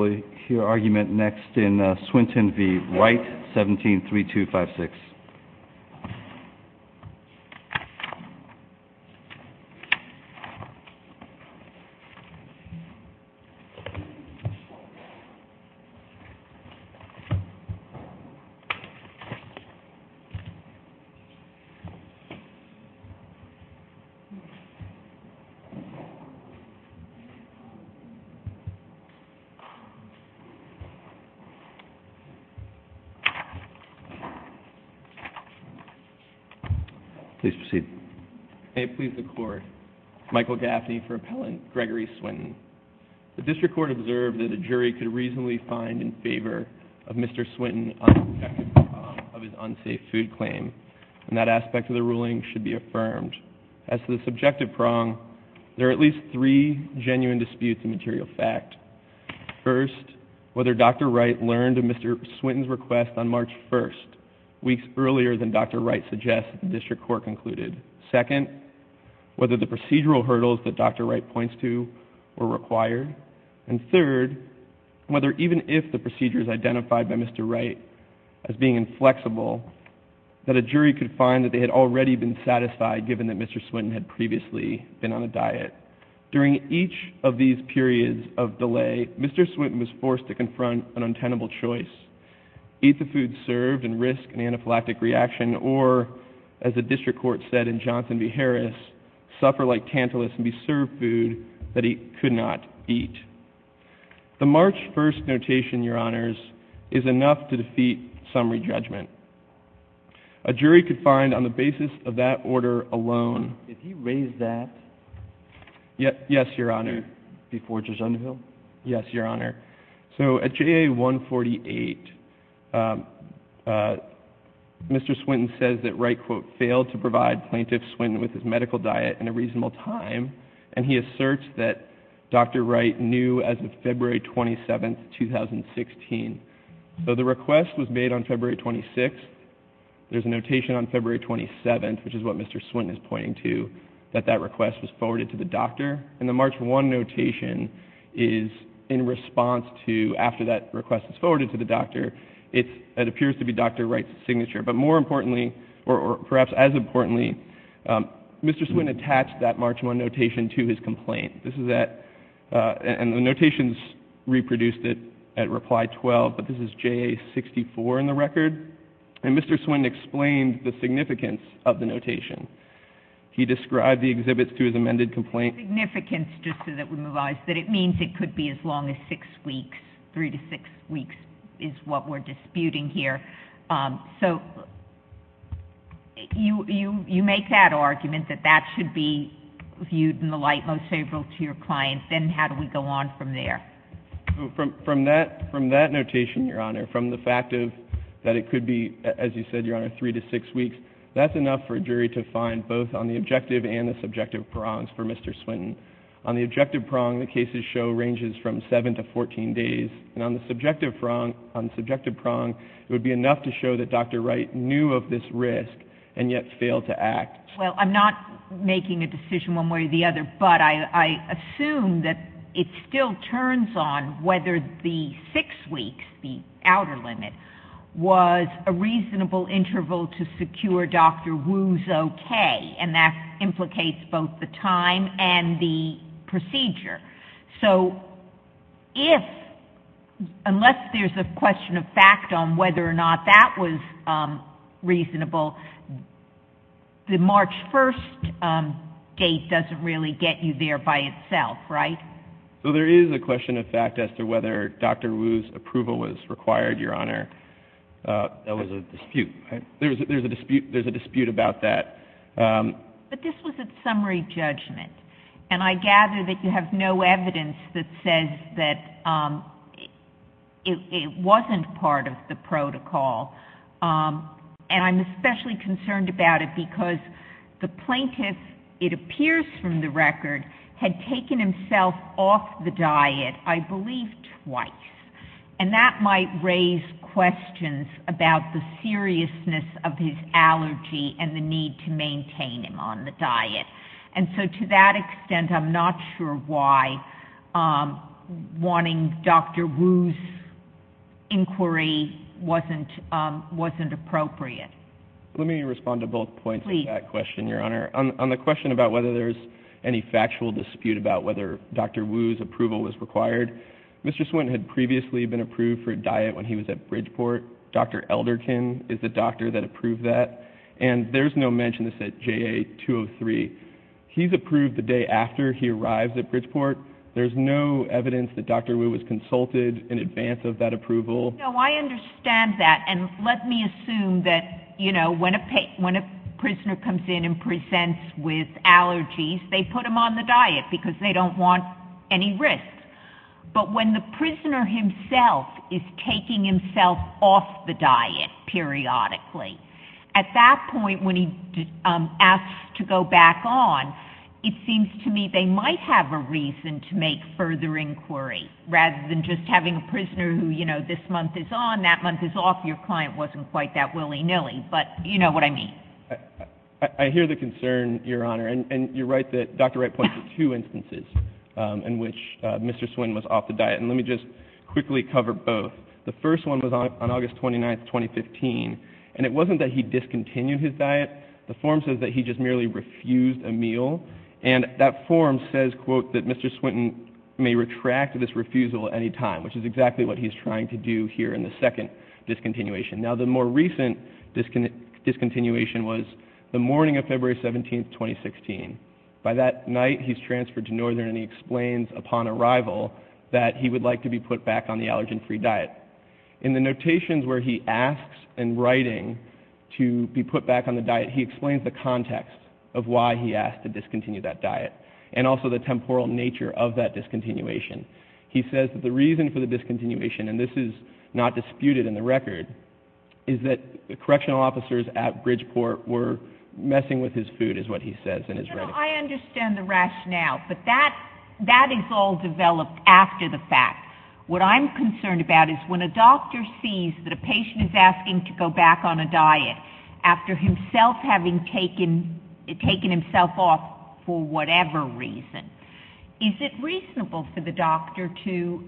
173256. Please proceed. May it please the Court, Michael Gaffney for Appellant, Gregory Swinton. The District Court observed that a jury could reasonably find in favor of Mr. Swinton's unsubjective prong of his unsafe food claim, and that aspect of the ruling should be affirmed. As to the subjective prong, there are at least three genuine disputes in material fact. First, whether Dr. Wright learned of Mr. Swinton's request on March 1st, weeks earlier than Dr. Wright suggests, the District Court concluded. Second, whether the procedural hurdles that Dr. Wright points to were required. And third, whether even if the procedures identified by Mr. Wright as being inflexible, that a jury could find that they had already been satisfied given that Mr. Swinton had previously been on a diet. During each of these periods of delay, Mr. Swinton was forced to confront an untenable choice. Eat the food served and risk an anaphylactic reaction, or, as the District Court said in Johnson v. Harris, suffer like Tantalus and be served food that he could not eat. The March 1st notation, Your Honors, is enough to defeat summary judgment. A jury could find on the basis of that order alone. Did he raise that? Yes, Your Honor. Before Judge Underhill? Yes, Your Honor. So at JA 148, Mr. Swinton says that Wright, quote, failed to provide Plaintiff Swinton with his medical diet in a reasonable time, and he asserts that Dr. Wright knew as of February 27th, 2016. So the request was made on February 26th. There's a notation on February 27th, which is what Mr. Swinton is pointing to, that that request was forwarded to the doctor, and the March 1 notation is in response to, after that request was forwarded to the doctor, it appears to be Dr. Wright's signature. But more importantly, or perhaps as importantly, Mr. Swinton attached that March 1 notation to his complaint. And the notations reproduced it at reply 12, but this is JA 64 in the record. And Mr. Swinton explained the significance of the notation. He described the exhibits to his amended complaint. The significance, just so that we move on, is that it means it could be as long as six weeks. Three to six weeks is what we're disputing here. So you make that argument that that should be viewed in the light most favorable to your client. Then how do we go on from there? From that notation, Your Honor, from the fact that it could be, as you said, Your Honor, three to six weeks, that's enough for a jury to find both on the objective and the subjective prongs for Mr. Swinton. On the objective prong, the cases show ranges from seven to 14 days. And on the subjective prong, it would be enough to show that Dr. Wright knew of this risk and yet failed to act. Well, I'm not making a decision one way or the other, but I assume that it still turns on whether the six weeks, the outer limit, was a reasonable interval to secure Dr. Wu's okay. And that implicates both the time and the procedure. So if, unless there's a question of fact on whether or not that was reasonable, the March 1st date doesn't really get you there by itself, right? So there is a question of fact as to whether Dr. Wu's approval was required, Your Honor. That was a dispute. There's a dispute about that. But this was a summary judgment. And I gather that you have no evidence that says that it wasn't part of the protocol. And I'm especially concerned about it because the plaintiff, it appears from the record, had taken himself off the diet, I believe twice. And that might raise questions about the seriousness of his allergy and the need to maintain him on the diet. And so to that extent, I'm not sure why wanting Dr. Wu's inquiry wasn't appropriate. Let me respond to both points on that question, Your Honor. On the question about whether there's any factual dispute about whether Dr. Wu's approval was required, Mr. Swinton had previously been approved for a diet when he was at Bridgeport. Dr. Elderton is the doctor that approved that. And there's no mention of this at JA-203. He's approved the day after he arrives at Bridgeport. There's no evidence that Dr. Wu was consulted in advance of that approval. No, I understand that. And let me assume that, you know, when a prisoner comes in and presents with allergies, they put them on the diet because they don't want any risk. But when the prisoner himself is taking himself off the diet periodically, at that point when he asks to go back on, it seems to me they might have a reason to make further inquiry rather than just having a prisoner who, you know, this month is on, that month is off. Your client wasn't quite that willy-nilly. But you know what I mean. I hear the concern, Your Honor. And you're right that Dr. Wright pointed to two instances in which Mr. Swinton was off the diet. And let me just quickly cover both. The first one was on August 29, 2015. And it wasn't that he discontinued his diet. The form says that he just merely refused a meal. And that form says, quote, that Mr. Swinton may retract this refusal at any time, which is exactly what he's trying to do here in the second discontinuation. Now, the more recent discontinuation was the morning of February 17, 2016. By that night, he's transferred to Northern and he explains upon arrival that he would like to be put back on the allergen-free diet. In the notations where he asks in writing to be put back on the diet, he explains the context of why he asked to discontinue that diet and also the temporal nature of that discontinuation. He says that the reason for the discontinuation, and this is not disputed in the record, is that the correctional officers at Bridgeport were messing with his food, is what he says in his writing. I understand the rationale, but that is all developed after the fact. What I'm concerned about is when a doctor sees that a patient is asking to go back on a diet after himself having taken himself off for whatever reason, is it reasonable for the doctor to,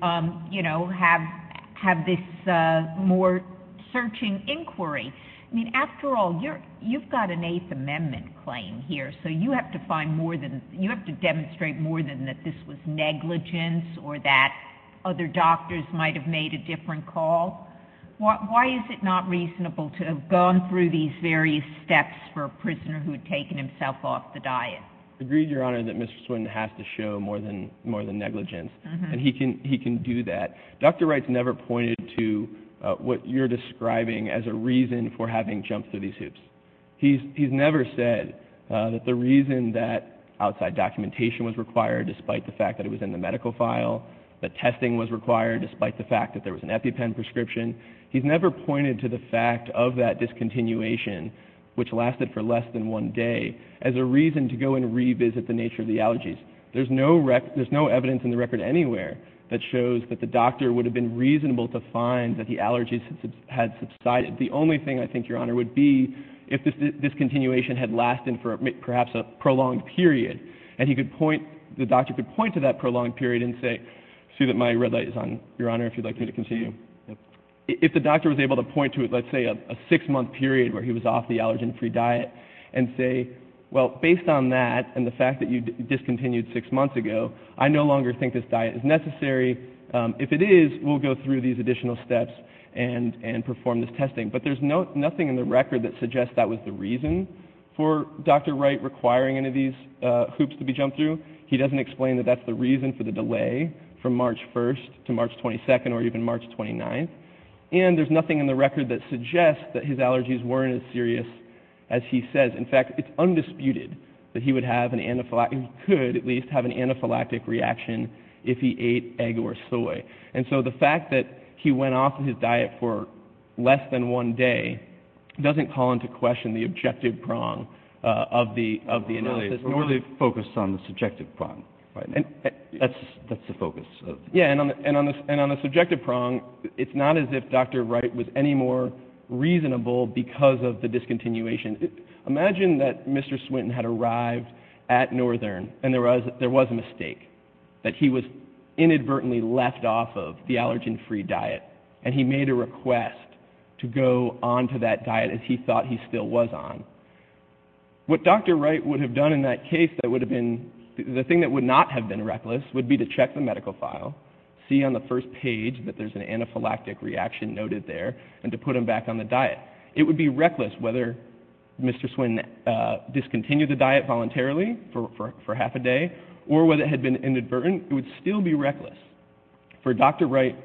you know, have this more searching inquiry? I mean, after all, you've got an Eighth Amendment claim here, so you have to find more than, you have to demonstrate more than that this was negligence or that other doctors might have made a different call. Why is it not reasonable to have gone through these various steps for a prisoner who had taken himself off the diet? Agreed, Your Honor, that Mr. Swinton has to show more than negligence, and he can do that. Dr. Wright's never pointed to what you're describing as a reason for having jumped through these hoops. He's never said that the reason that outside documentation was required, despite the fact that it was in the medical file, that testing was required despite the fact that there was an EpiPen prescription, he's never pointed to the fact of that discontinuation, which lasted for less than one day, as a reason to go and revisit the nature of the allergies. There's no evidence in the record anywhere that shows that the doctor would have been reasonable to find that the allergies had subsided. The only thing, I think, Your Honor, would be if this discontinuation had lasted for perhaps a prolonged period and the doctor could point to that prolonged period and say, I see that my red light is on, Your Honor, if you'd like me to continue. If the doctor was able to point to, let's say, a six-month period where he was off the allergen-free diet and say, well, based on that and the fact that you discontinued six months ago, I no longer think this diet is necessary. If it is, we'll go through these additional steps and perform this testing. But there's nothing in the record that suggests that was the reason for Dr. Wright requiring any of these hoops to be jumped through. He doesn't explain that that's the reason for the delay from March 1st to March 22nd or even March 29th. And there's nothing in the record that suggests that his allergies weren't as serious as he says. In fact, it's undisputed that he would have an anaphylactic, or he could at least have an anaphylactic reaction if he ate egg or soy. And so the fact that he went off his diet for less than one day doesn't call into question the objective prong of the analysis. Really, it's really focused on the subjective prong right now. That's the focus. Yeah, and on the subjective prong, it's not as if Dr. Wright was any more reasonable because of the discontinuation. Imagine that Mr. Swinton had arrived at Northern and there was a mistake, that he was inadvertently left off of the allergen-free diet and he made a request to go on to that diet as he thought he still was on. What Dr. Wright would have done in that case that would have been, the thing that would not have been reckless would be to check the medical file, see on the first page that there's an anaphylactic reaction noted there, and to put him back on the diet. It would be reckless whether Mr. Swinton discontinued the diet voluntarily for half a day or whether it had been inadvertent. It would still be reckless for Dr. Wright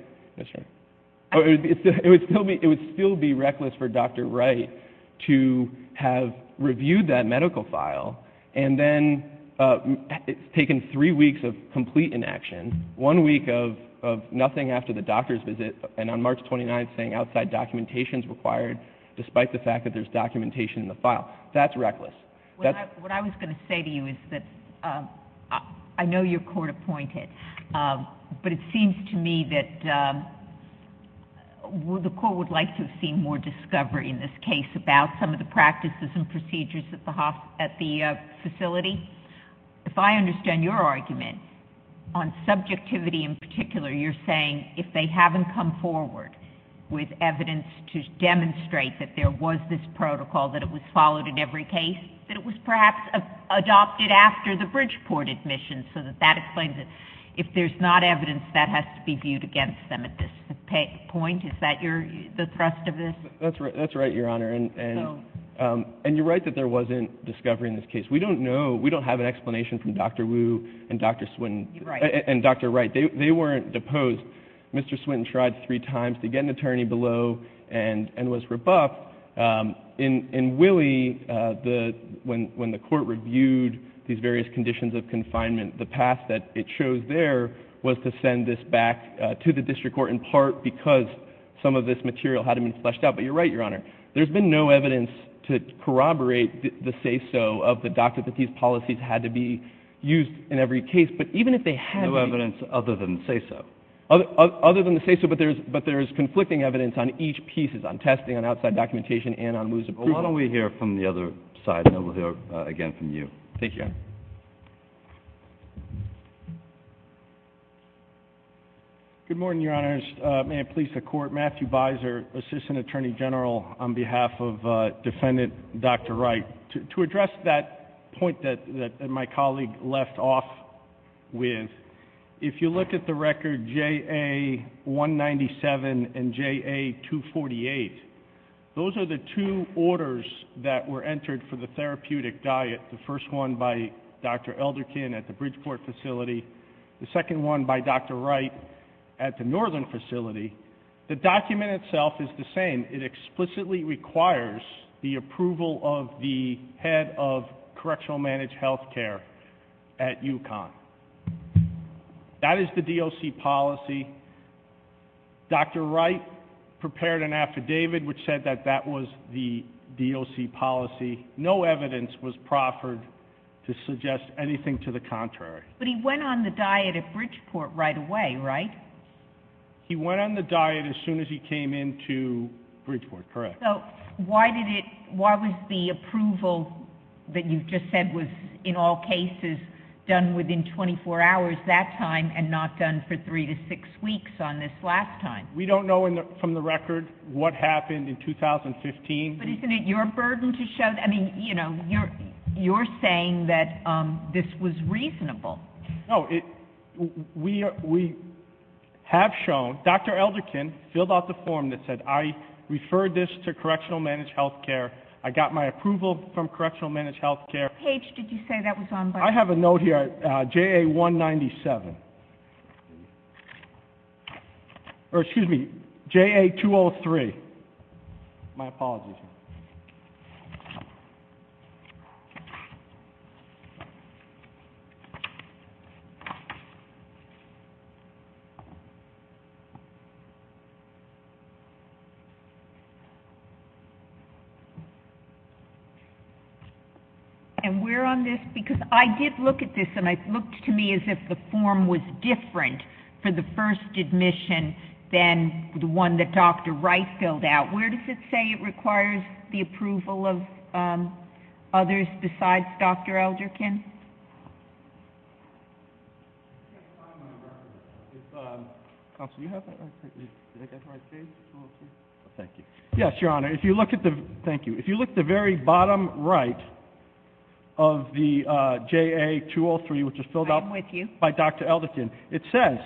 to have reviewed that medical file and then taken three weeks of complete inaction, one week of nothing after the doctor's visit, and on March 29th saying outside documentation is required, despite the fact that there's documentation in the file. That's reckless. What I was going to say to you is that I know you're court-appointed, but it seems to me that the court would like to have seen more discovery in this case about some of the practices and procedures at the facility. If I understand your argument on subjectivity in particular, you're saying if they haven't come forward with evidence to demonstrate that there was this protocol, that it was followed in every case, that it was perhaps adopted after the Bridgeport admissions so that that explains it. If there's not evidence, that has to be viewed against them at this point. Is that the thrust of this? That's right, Your Honor, and you're right that there wasn't discovery in this case. We don't know, we don't have an explanation from Dr. Wu and Dr. Wright. They weren't deposed. Mr. Swinton tried three times to get an attorney below and was rebuffed. In Willie, when the court reviewed these various conditions of confinement, the path that it chose there was to send this back to the district court, in part because some of this material had to be fleshed out. But you're right, Your Honor, there's been no evidence to corroborate the say-so of the doctor that these policies had to be used in every case. No evidence other than the say-so. Other than the say-so, but there is conflicting evidence on each piece, on testing, on outside documentation, and on Wu's approval. Well, why don't we hear from the other side, and then we'll hear again from you. Thank you, Your Honor. Good morning, Your Honors. May it please the Court, Matthew Beiser, Assistant Attorney General, on behalf of Defendant Dr. Wright. To address that point that my colleague left off with, if you look at the record JA-197 and JA-248, those are the two orders that were entered for the therapeutic diet, the first one by Dr. Elderkin at the Bridgeport facility, the second one by Dr. Wright at the Northern facility. The document itself is the same. It explicitly requires the approval of the head of correctional managed health care at UConn. That is the DOC policy. Dr. Wright prepared an affidavit which said that that was the DOC policy. No evidence was proffered to suggest anything to the contrary. But he went on the diet at Bridgeport right away, right? He went on the diet as soon as he came into Bridgeport, correct. Why was the approval that you just said was, in all cases, done within 24 hours that time and not done for three to six weeks on this last time? We don't know from the record what happened in 2015. But isn't it your burden to show... I mean, you're saying that this was reasonable. No, we have shown. Dr. Elderkin filled out the form that said, I referred this to correctional managed health care. I got my approval from correctional managed health care. Page, did you say that was on... I have a note here, JA197. Or excuse me, JA203. My apologies. And we're on this because I did look at this, and it looked to me as if the form was different for the first admission than the one that Dr. Wright filled out. Where does it say it requires the approval of others besides Dr. Elderkin? Yes, Your Honor. If you look at the very bottom right of the JA203, which is filled out by Dr. Elderkin, it says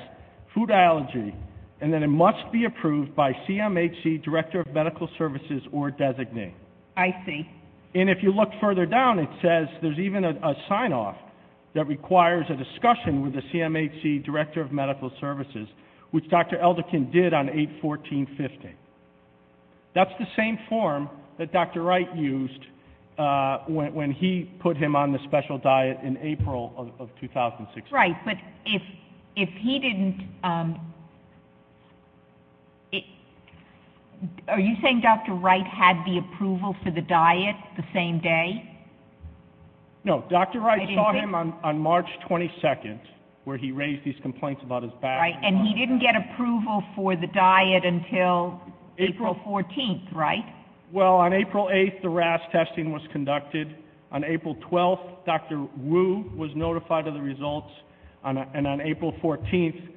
food allergy, and then it must be approved by CMHC, Director of Medical Services, or designated. I see. And if you look further down, it says there's even a sign-off that requires a discussion with the CMHC, Director of Medical Services, which Dr. Elderkin did on 8-14-15. That's the same form that Dr. Wright used when he put him on the special diet in April of 2016. That's right. But if he didn't – are you saying Dr. Wright had the approval for the diet the same day? No. Dr. Wright saw him on March 22nd, where he raised these complaints about his back. And he didn't get approval for the diet until April 14th, right? Well, on April 8th, the RAS testing was conducted. On April 12th, Dr. Wu was notified of the results, and on April 14th,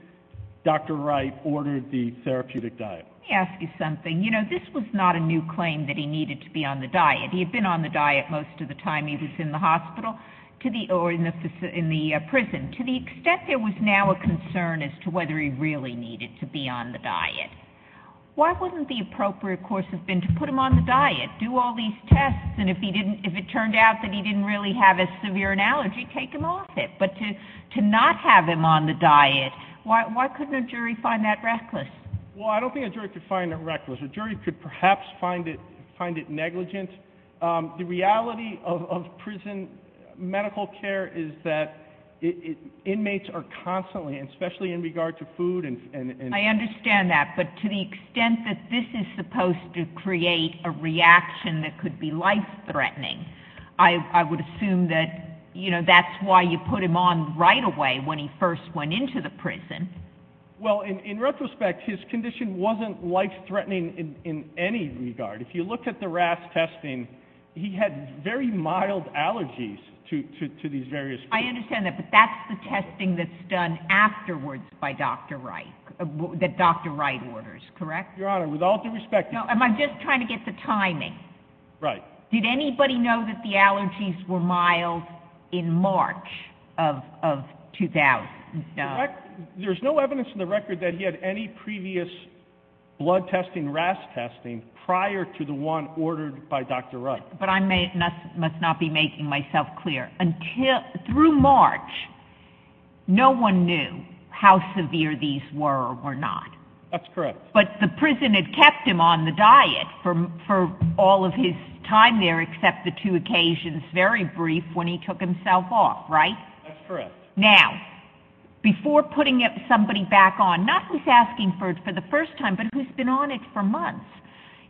Dr. Wright ordered the therapeutic diet. Let me ask you something. You know, this was not a new claim that he needed to be on the diet. He had been on the diet most of the time he was in the hospital or in the prison. To the extent there was now a concern as to whether he really needed to be on the diet, why wouldn't the appropriate course have been to put him on the diet, do all these tests, and if it turned out that he didn't really have a severe allergy, take him off it? But to not have him on the diet, why couldn't a jury find that reckless? Well, I don't think a jury could find it reckless. A jury could perhaps find it negligent. The reality of prison medical care is that inmates are constantly, and especially in regard to food and— I understand that, but to the extent that this is supposed to create a reaction that could be life-threatening, I would assume that, you know, that's why you put him on right away when he first went into the prison. Well, in retrospect, his condition wasn't life-threatening in any regard. If you look at the RAS testing, he had very mild allergies to these various foods. I understand that, but that's the testing that's done afterwards by Dr. Wright, that Dr. Wright orders, correct? Your Honor, with all due respect— No, I'm just trying to get the timing. Right. Did anybody know that the allergies were mild in March of 2000? There's no evidence in the record that he had any previous blood testing, RAS testing, prior to the one ordered by Dr. Wright. But I must not be making myself clear. Through March, no one knew how severe these were or were not. That's correct. But the prison had kept him on the diet for all of his time there except the two occasions, very brief, when he took himself off, right? That's correct. Now, before putting somebody back on, not who's asking for it for the first time, but who's been on it for months,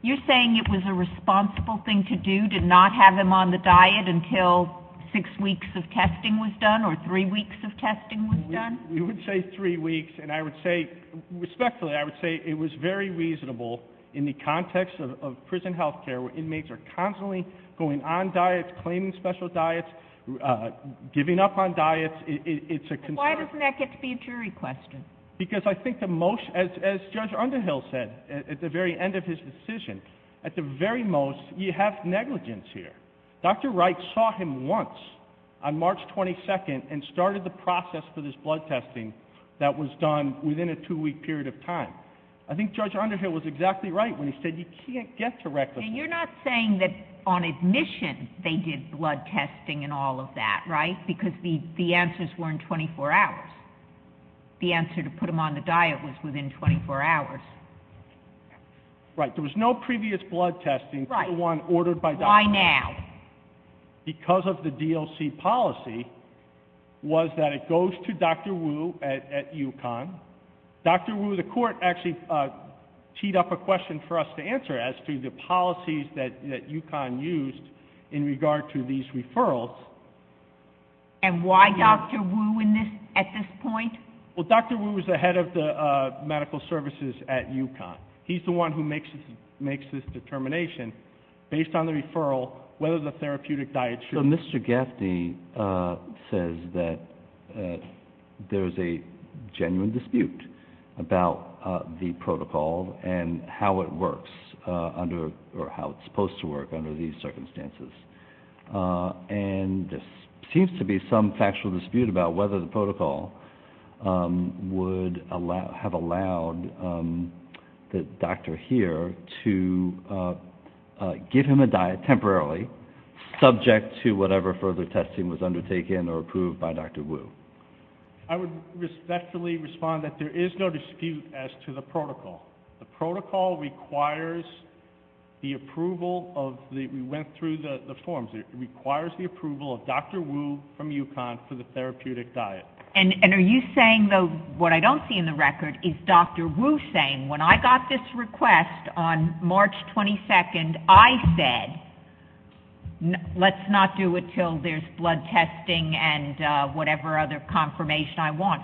you're saying it was a responsible thing to do to not have him on the diet until six weeks of testing was done or three weeks of testing was done? We would say three weeks, and I would say, respectfully, I would say it was very reasonable in the context of prison health care where inmates are constantly going on diets, claiming special diets, giving up on diets. It's a concern. But why doesn't that get to be a jury question? Because I think the most, as Judge Underhill said at the very end of his decision, at the very most, you have negligence here. Dr. Wright saw him once on March 22nd and started the process for this blood testing that was done within a two-week period of time. I think Judge Underhill was exactly right when he said you can't get to reckless. You're not saying that on admission they did blood testing and all of that, right? Because the answers were in 24 hours. The answer to put him on the diet was within 24 hours. Right. There was no previous blood testing. Right. The one ordered by Dr. Wu. Why now? Because of the DLC policy was that it goes to Dr. Wu at UConn. Dr. Wu, the court actually teed up a question for us to answer as to the policies that UConn used in regard to these referrals. And why Dr. Wu at this point? Well, Dr. Wu is the head of the medical services at UConn. He's the one who makes this determination based on the referral whether the therapeutic diet should be used. So Mr. Gaffney says that there's a genuine dispute about the protocol and how it works, or how it's supposed to work under these circumstances. And there seems to be some factual dispute about whether the protocol would have allowed the doctor here to give him a diet temporarily, subject to whatever further testing was undertaken or approved by Dr. Wu. I would respectfully respond that there is no dispute as to the protocol. The protocol requires the approval of the – we went through the forms. It requires the approval of Dr. Wu from UConn for the therapeutic diet. And are you saying, though, what I don't see in the record is Dr. Wu saying, when I got this request on March 22nd, I said, let's not do it until there's blood testing and whatever other confirmation I want.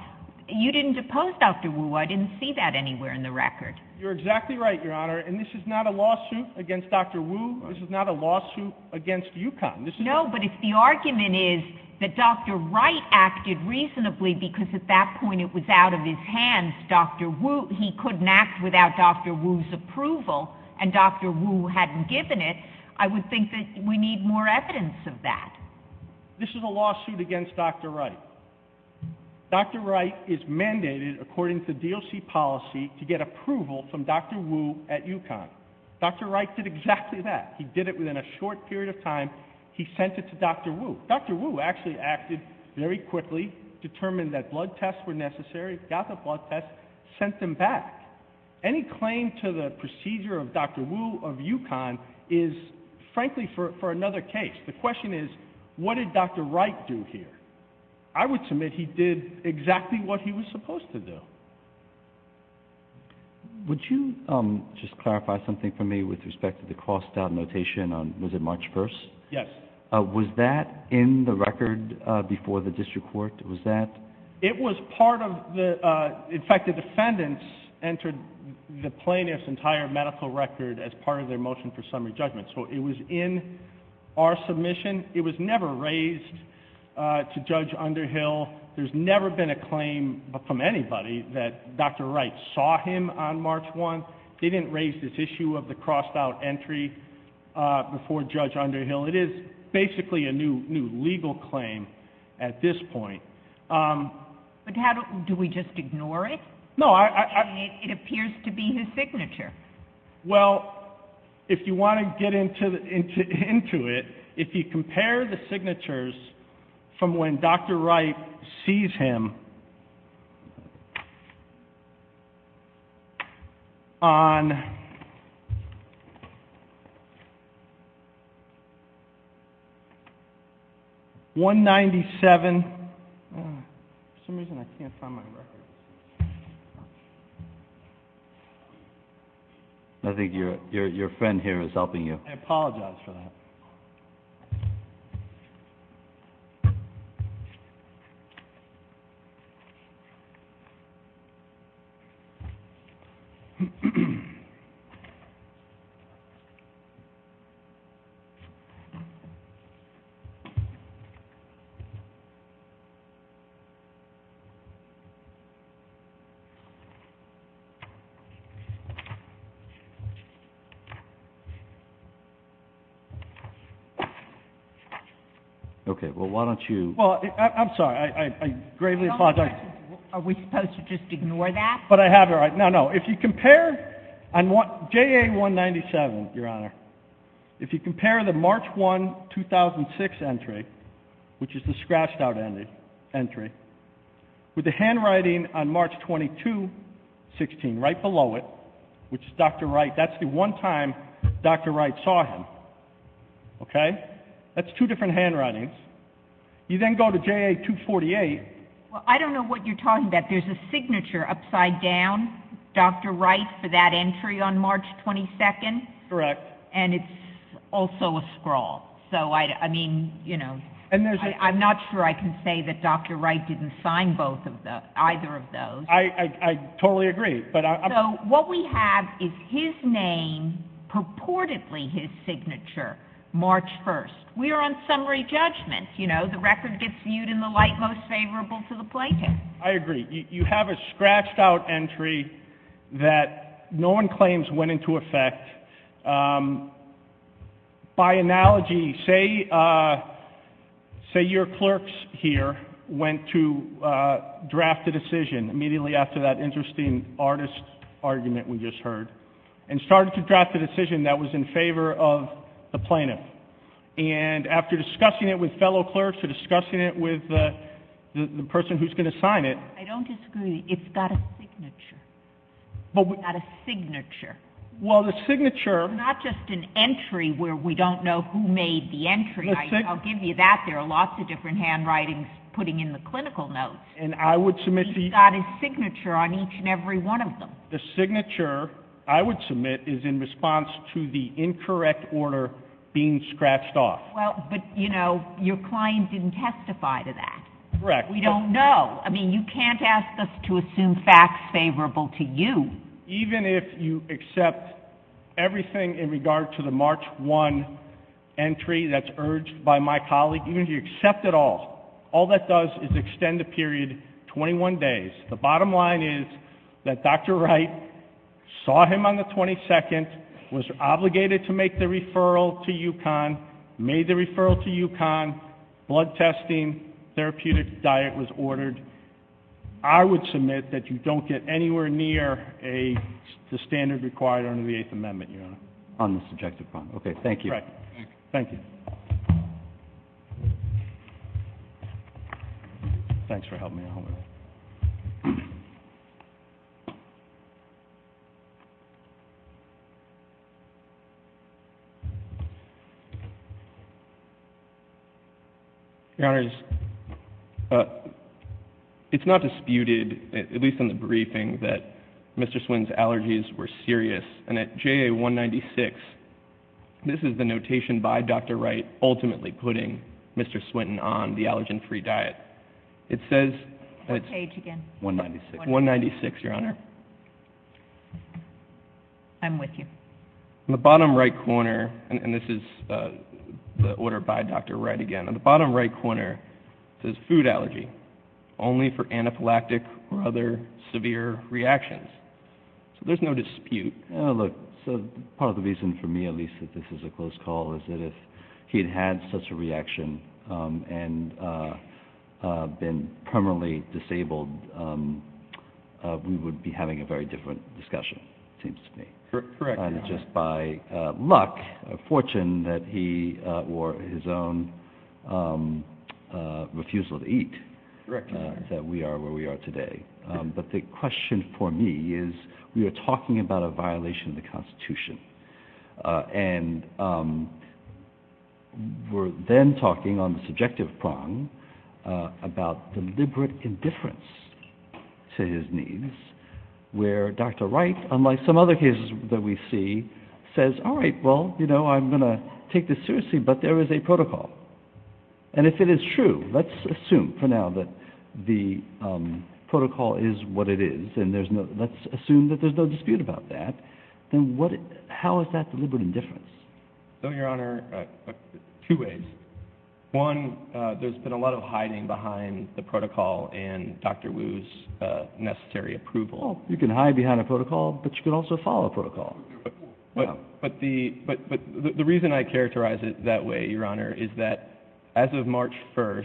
You didn't oppose Dr. Wu. I didn't see that anywhere in the record. You're exactly right, Your Honor. And this is not a lawsuit against Dr. Wu. This is not a lawsuit against UConn. No, but if the argument is that Dr. Wright acted reasonably because at that point it was out of his hands, Dr. Wu, he couldn't act without Dr. Wu's approval, and Dr. Wu hadn't given it, I would think that we need more evidence of that. This is a lawsuit against Dr. Wright. Dr. Wright is mandated, according to DOC policy, to get approval from Dr. Wu at UConn. Dr. Wright did exactly that. He did it within a short period of time. He sent it to Dr. Wu. Dr. Wu actually acted very quickly, determined that blood tests were necessary, got the blood tests, sent them back. Any claim to the procedure of Dr. Wu of UConn is, frankly, for another case. The question is, what did Dr. Wright do here? I would submit he did exactly what he was supposed to do. Would you just clarify something for me with respect to the crossed-out notation on, was it March 1st? Yes. Was that in the record before the district court? Was that? It was part of the, in fact, the defendants entered the plaintiff's entire medical record as part of their motion for summary judgment. So it was in our submission. It was never raised to Judge Underhill. There's never been a claim from anybody that Dr. Wright saw him on March 1st. They didn't raise this issue of the crossed-out entry before Judge Underhill. It is basically a new legal claim at this point. But how do, do we just ignore it? No, I, I. It appears to be his signature. Well, if you want to get into it, if you compare the signatures from when Dr. Wright sees him on 197. For some reason I can't find my record. I think your friend here is helping you. I apologize for that. Okay. Well, why don't you. Well, I'm sorry. I, I, I gravely apologize. Are we supposed to just ignore that? But I have it right. No, no. If you compare on JA 197, Your Honor, if you compare the March 1, 2006 entry, which is the scratched-out entry, with the handwriting on March 22, 16 right below it, which says, Dr. Wright, that's the one time Dr. Wright saw him. Okay? That's two different handwritings. You then go to JA 248. Well, I don't know what you're talking about. There's a signature upside down, Dr. Wright, for that entry on March 22nd. Correct. And it's also a scrawl. So, I, I mean, you know. And there's a. I'm not sure I can say that Dr. Wright didn't sign both of the, either of those. I, I, I totally agree. So, what we have is his name purportedly his signature, March 1st. We are on summary judgment, you know. The record gets viewed in the light most favorable to the plaintiff. I agree. You have a scratched-out entry that no one claims went into effect. By analogy, say, say your clerks here went to draft a decision immediately after that interesting artist argument we just heard, and started to draft a decision that was in favor of the plaintiff. And after discussing it with fellow clerks, discussing it with the person who's going to sign it. I don't disagree. It's got a signature. But we. It's got a signature. Well, the signature. Not just an entry where we don't know who made the entry. I'll give you that. There are lots of different handwritings putting in the clinical notes. And I would submit the. He's got his signature on each and every one of them. The signature I would submit is in response to the incorrect order being scratched off. Well, but, you know, your client didn't testify to that. Correct. We don't know. I mean, you can't ask us to assume facts favorable to you. Even if you accept everything in regard to the March 1 entry that's urged by my colleague, even if you accept it all, all that does is extend the period 21 days. The bottom line is that Dr. Wright saw him on the 22nd, was obligated to make the referral to UConn, made the referral to UConn, blood testing, therapeutic diet was ordered. I would submit that you don't get anywhere near the standard required under the Eighth Amendment, Your Honor. On the subjective front. Okay, thank you. Thank you. Thanks for helping me out. Your Honor, it's not disputed, at least in the briefing, that Mr. Swinton's allergies were serious. And at JA 196, this is the notation by Dr. Wright ultimately putting Mr. Swinton on the allergen-free diet. It says, What page again? 196. 196, Your Honor. I'm with you. In the bottom right corner, and this is the order by Dr. Wright again, in the bottom right corner it says food allergy, only for anaphylactic or other severe reactions. So there's no dispute. Look, part of the reason for me, at least, that this is a closed call is that if he had had such a reaction and been permanently disabled, we would be having a very different discussion, it seems to me. Correct, Your Honor. Just by luck, fortune, that he wore his own refusal to eat. Correct, Your Honor. That we are where we are today. But the question for me is we are talking about a violation of the Constitution. And we're then talking on the subjective prong about deliberate indifference to his needs, where Dr. Wright, unlike some other cases that we see, says, All right, well, you know, I'm going to take this seriously, but there is a protocol. And if it is true, let's assume for now that the protocol is what it is, and let's assume that there's no dispute about that, then how is that deliberate indifference? No, Your Honor, two ways. One, there's been a lot of hiding behind the protocol and Dr. Wu's necessary approval. Well, you can hide behind a protocol, but you can also follow a protocol. But the reason I characterize it that way, Your Honor, is that as of March 1st,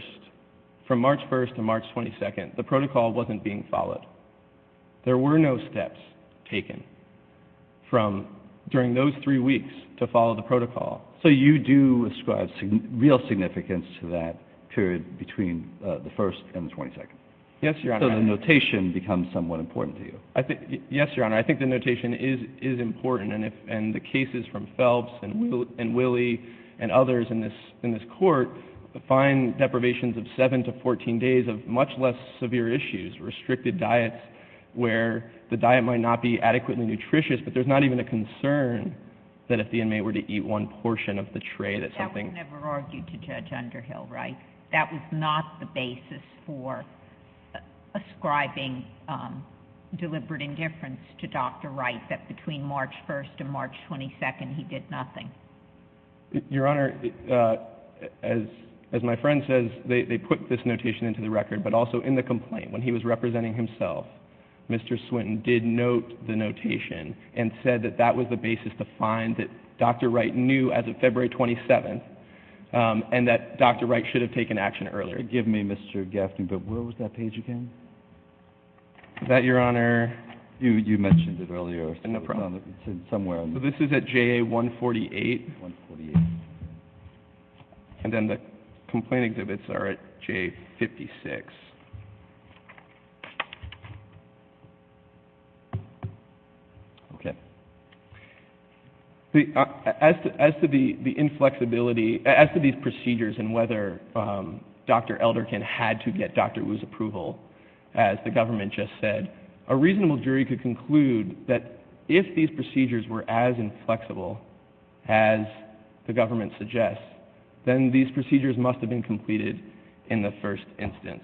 from March 1st to March 22nd, the protocol wasn't being followed. There were no steps taken during those three weeks to follow the protocol. So you do ascribe real significance to that period between the 1st and the 22nd. Yes, Your Honor. So the notation becomes somewhat important to you. Yes, Your Honor, I think the notation is important, and the cases from Phelps and Willey and others in this court define deprivations of 7 to 14 days of much less severe issues, restricted diets where the diet might not be adequately nutritious, but there's not even a concern that if the inmate were to eat one portion of the tray that something... That was never argued to Judge Underhill, right? That was not the basis for ascribing deliberate indifference to Dr. Wright, that between March 1st and March 22nd he did nothing. Your Honor, as my friend says, they put this notation into the record, but also in the complaint when he was representing himself, Mr. Swinton did note the notation and said that that was the basis to find that Dr. Wright knew as of February 27th and that Dr. Wright should have taken action earlier. Excuse me, Mr. Gaffney, but where was that page again? That, Your Honor... You mentioned it earlier. No problem. It's somewhere. This is at JA 148. 148. And then the complaint exhibits are at JA 56. Okay. As to the inflexibility... As to these procedures and whether Dr. Elderkin had to get Dr. Wu's approval, as the government just said, a reasonable jury could conclude that if these procedures were as inflexible as the government suggests, then these procedures must have been completed in the first instance.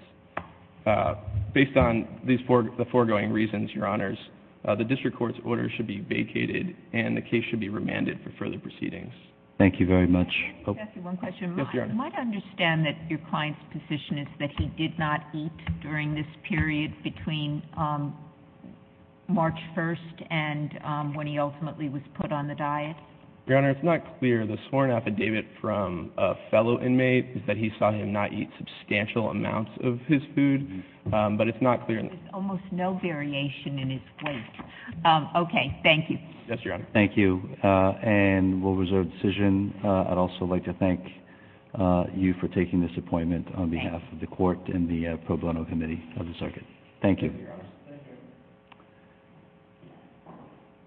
Based on the foregoing reasons, Your Honors, the district court's order should be vacated and the case should be remanded for further proceedings. Thank you very much. Let me ask you one question. Yes, Your Honor. You might understand that your client's position is that he did not eat during this period between March 1st and when he ultimately was put on the diet? Your Honor, it's not clear. The sworn affidavit from a fellow inmate is that he saw him not eat substantial amounts of his food, but it's not clear... There's almost no variation in his weight. Okay. Thank you. Yes, Your Honor. Thank you. And we'll reserve the decision. I'd also like to thank you for taking this appointment on behalf of the court and the pro bono committee of the circuit. Thank you. Thank you, Your Honor. Thank you.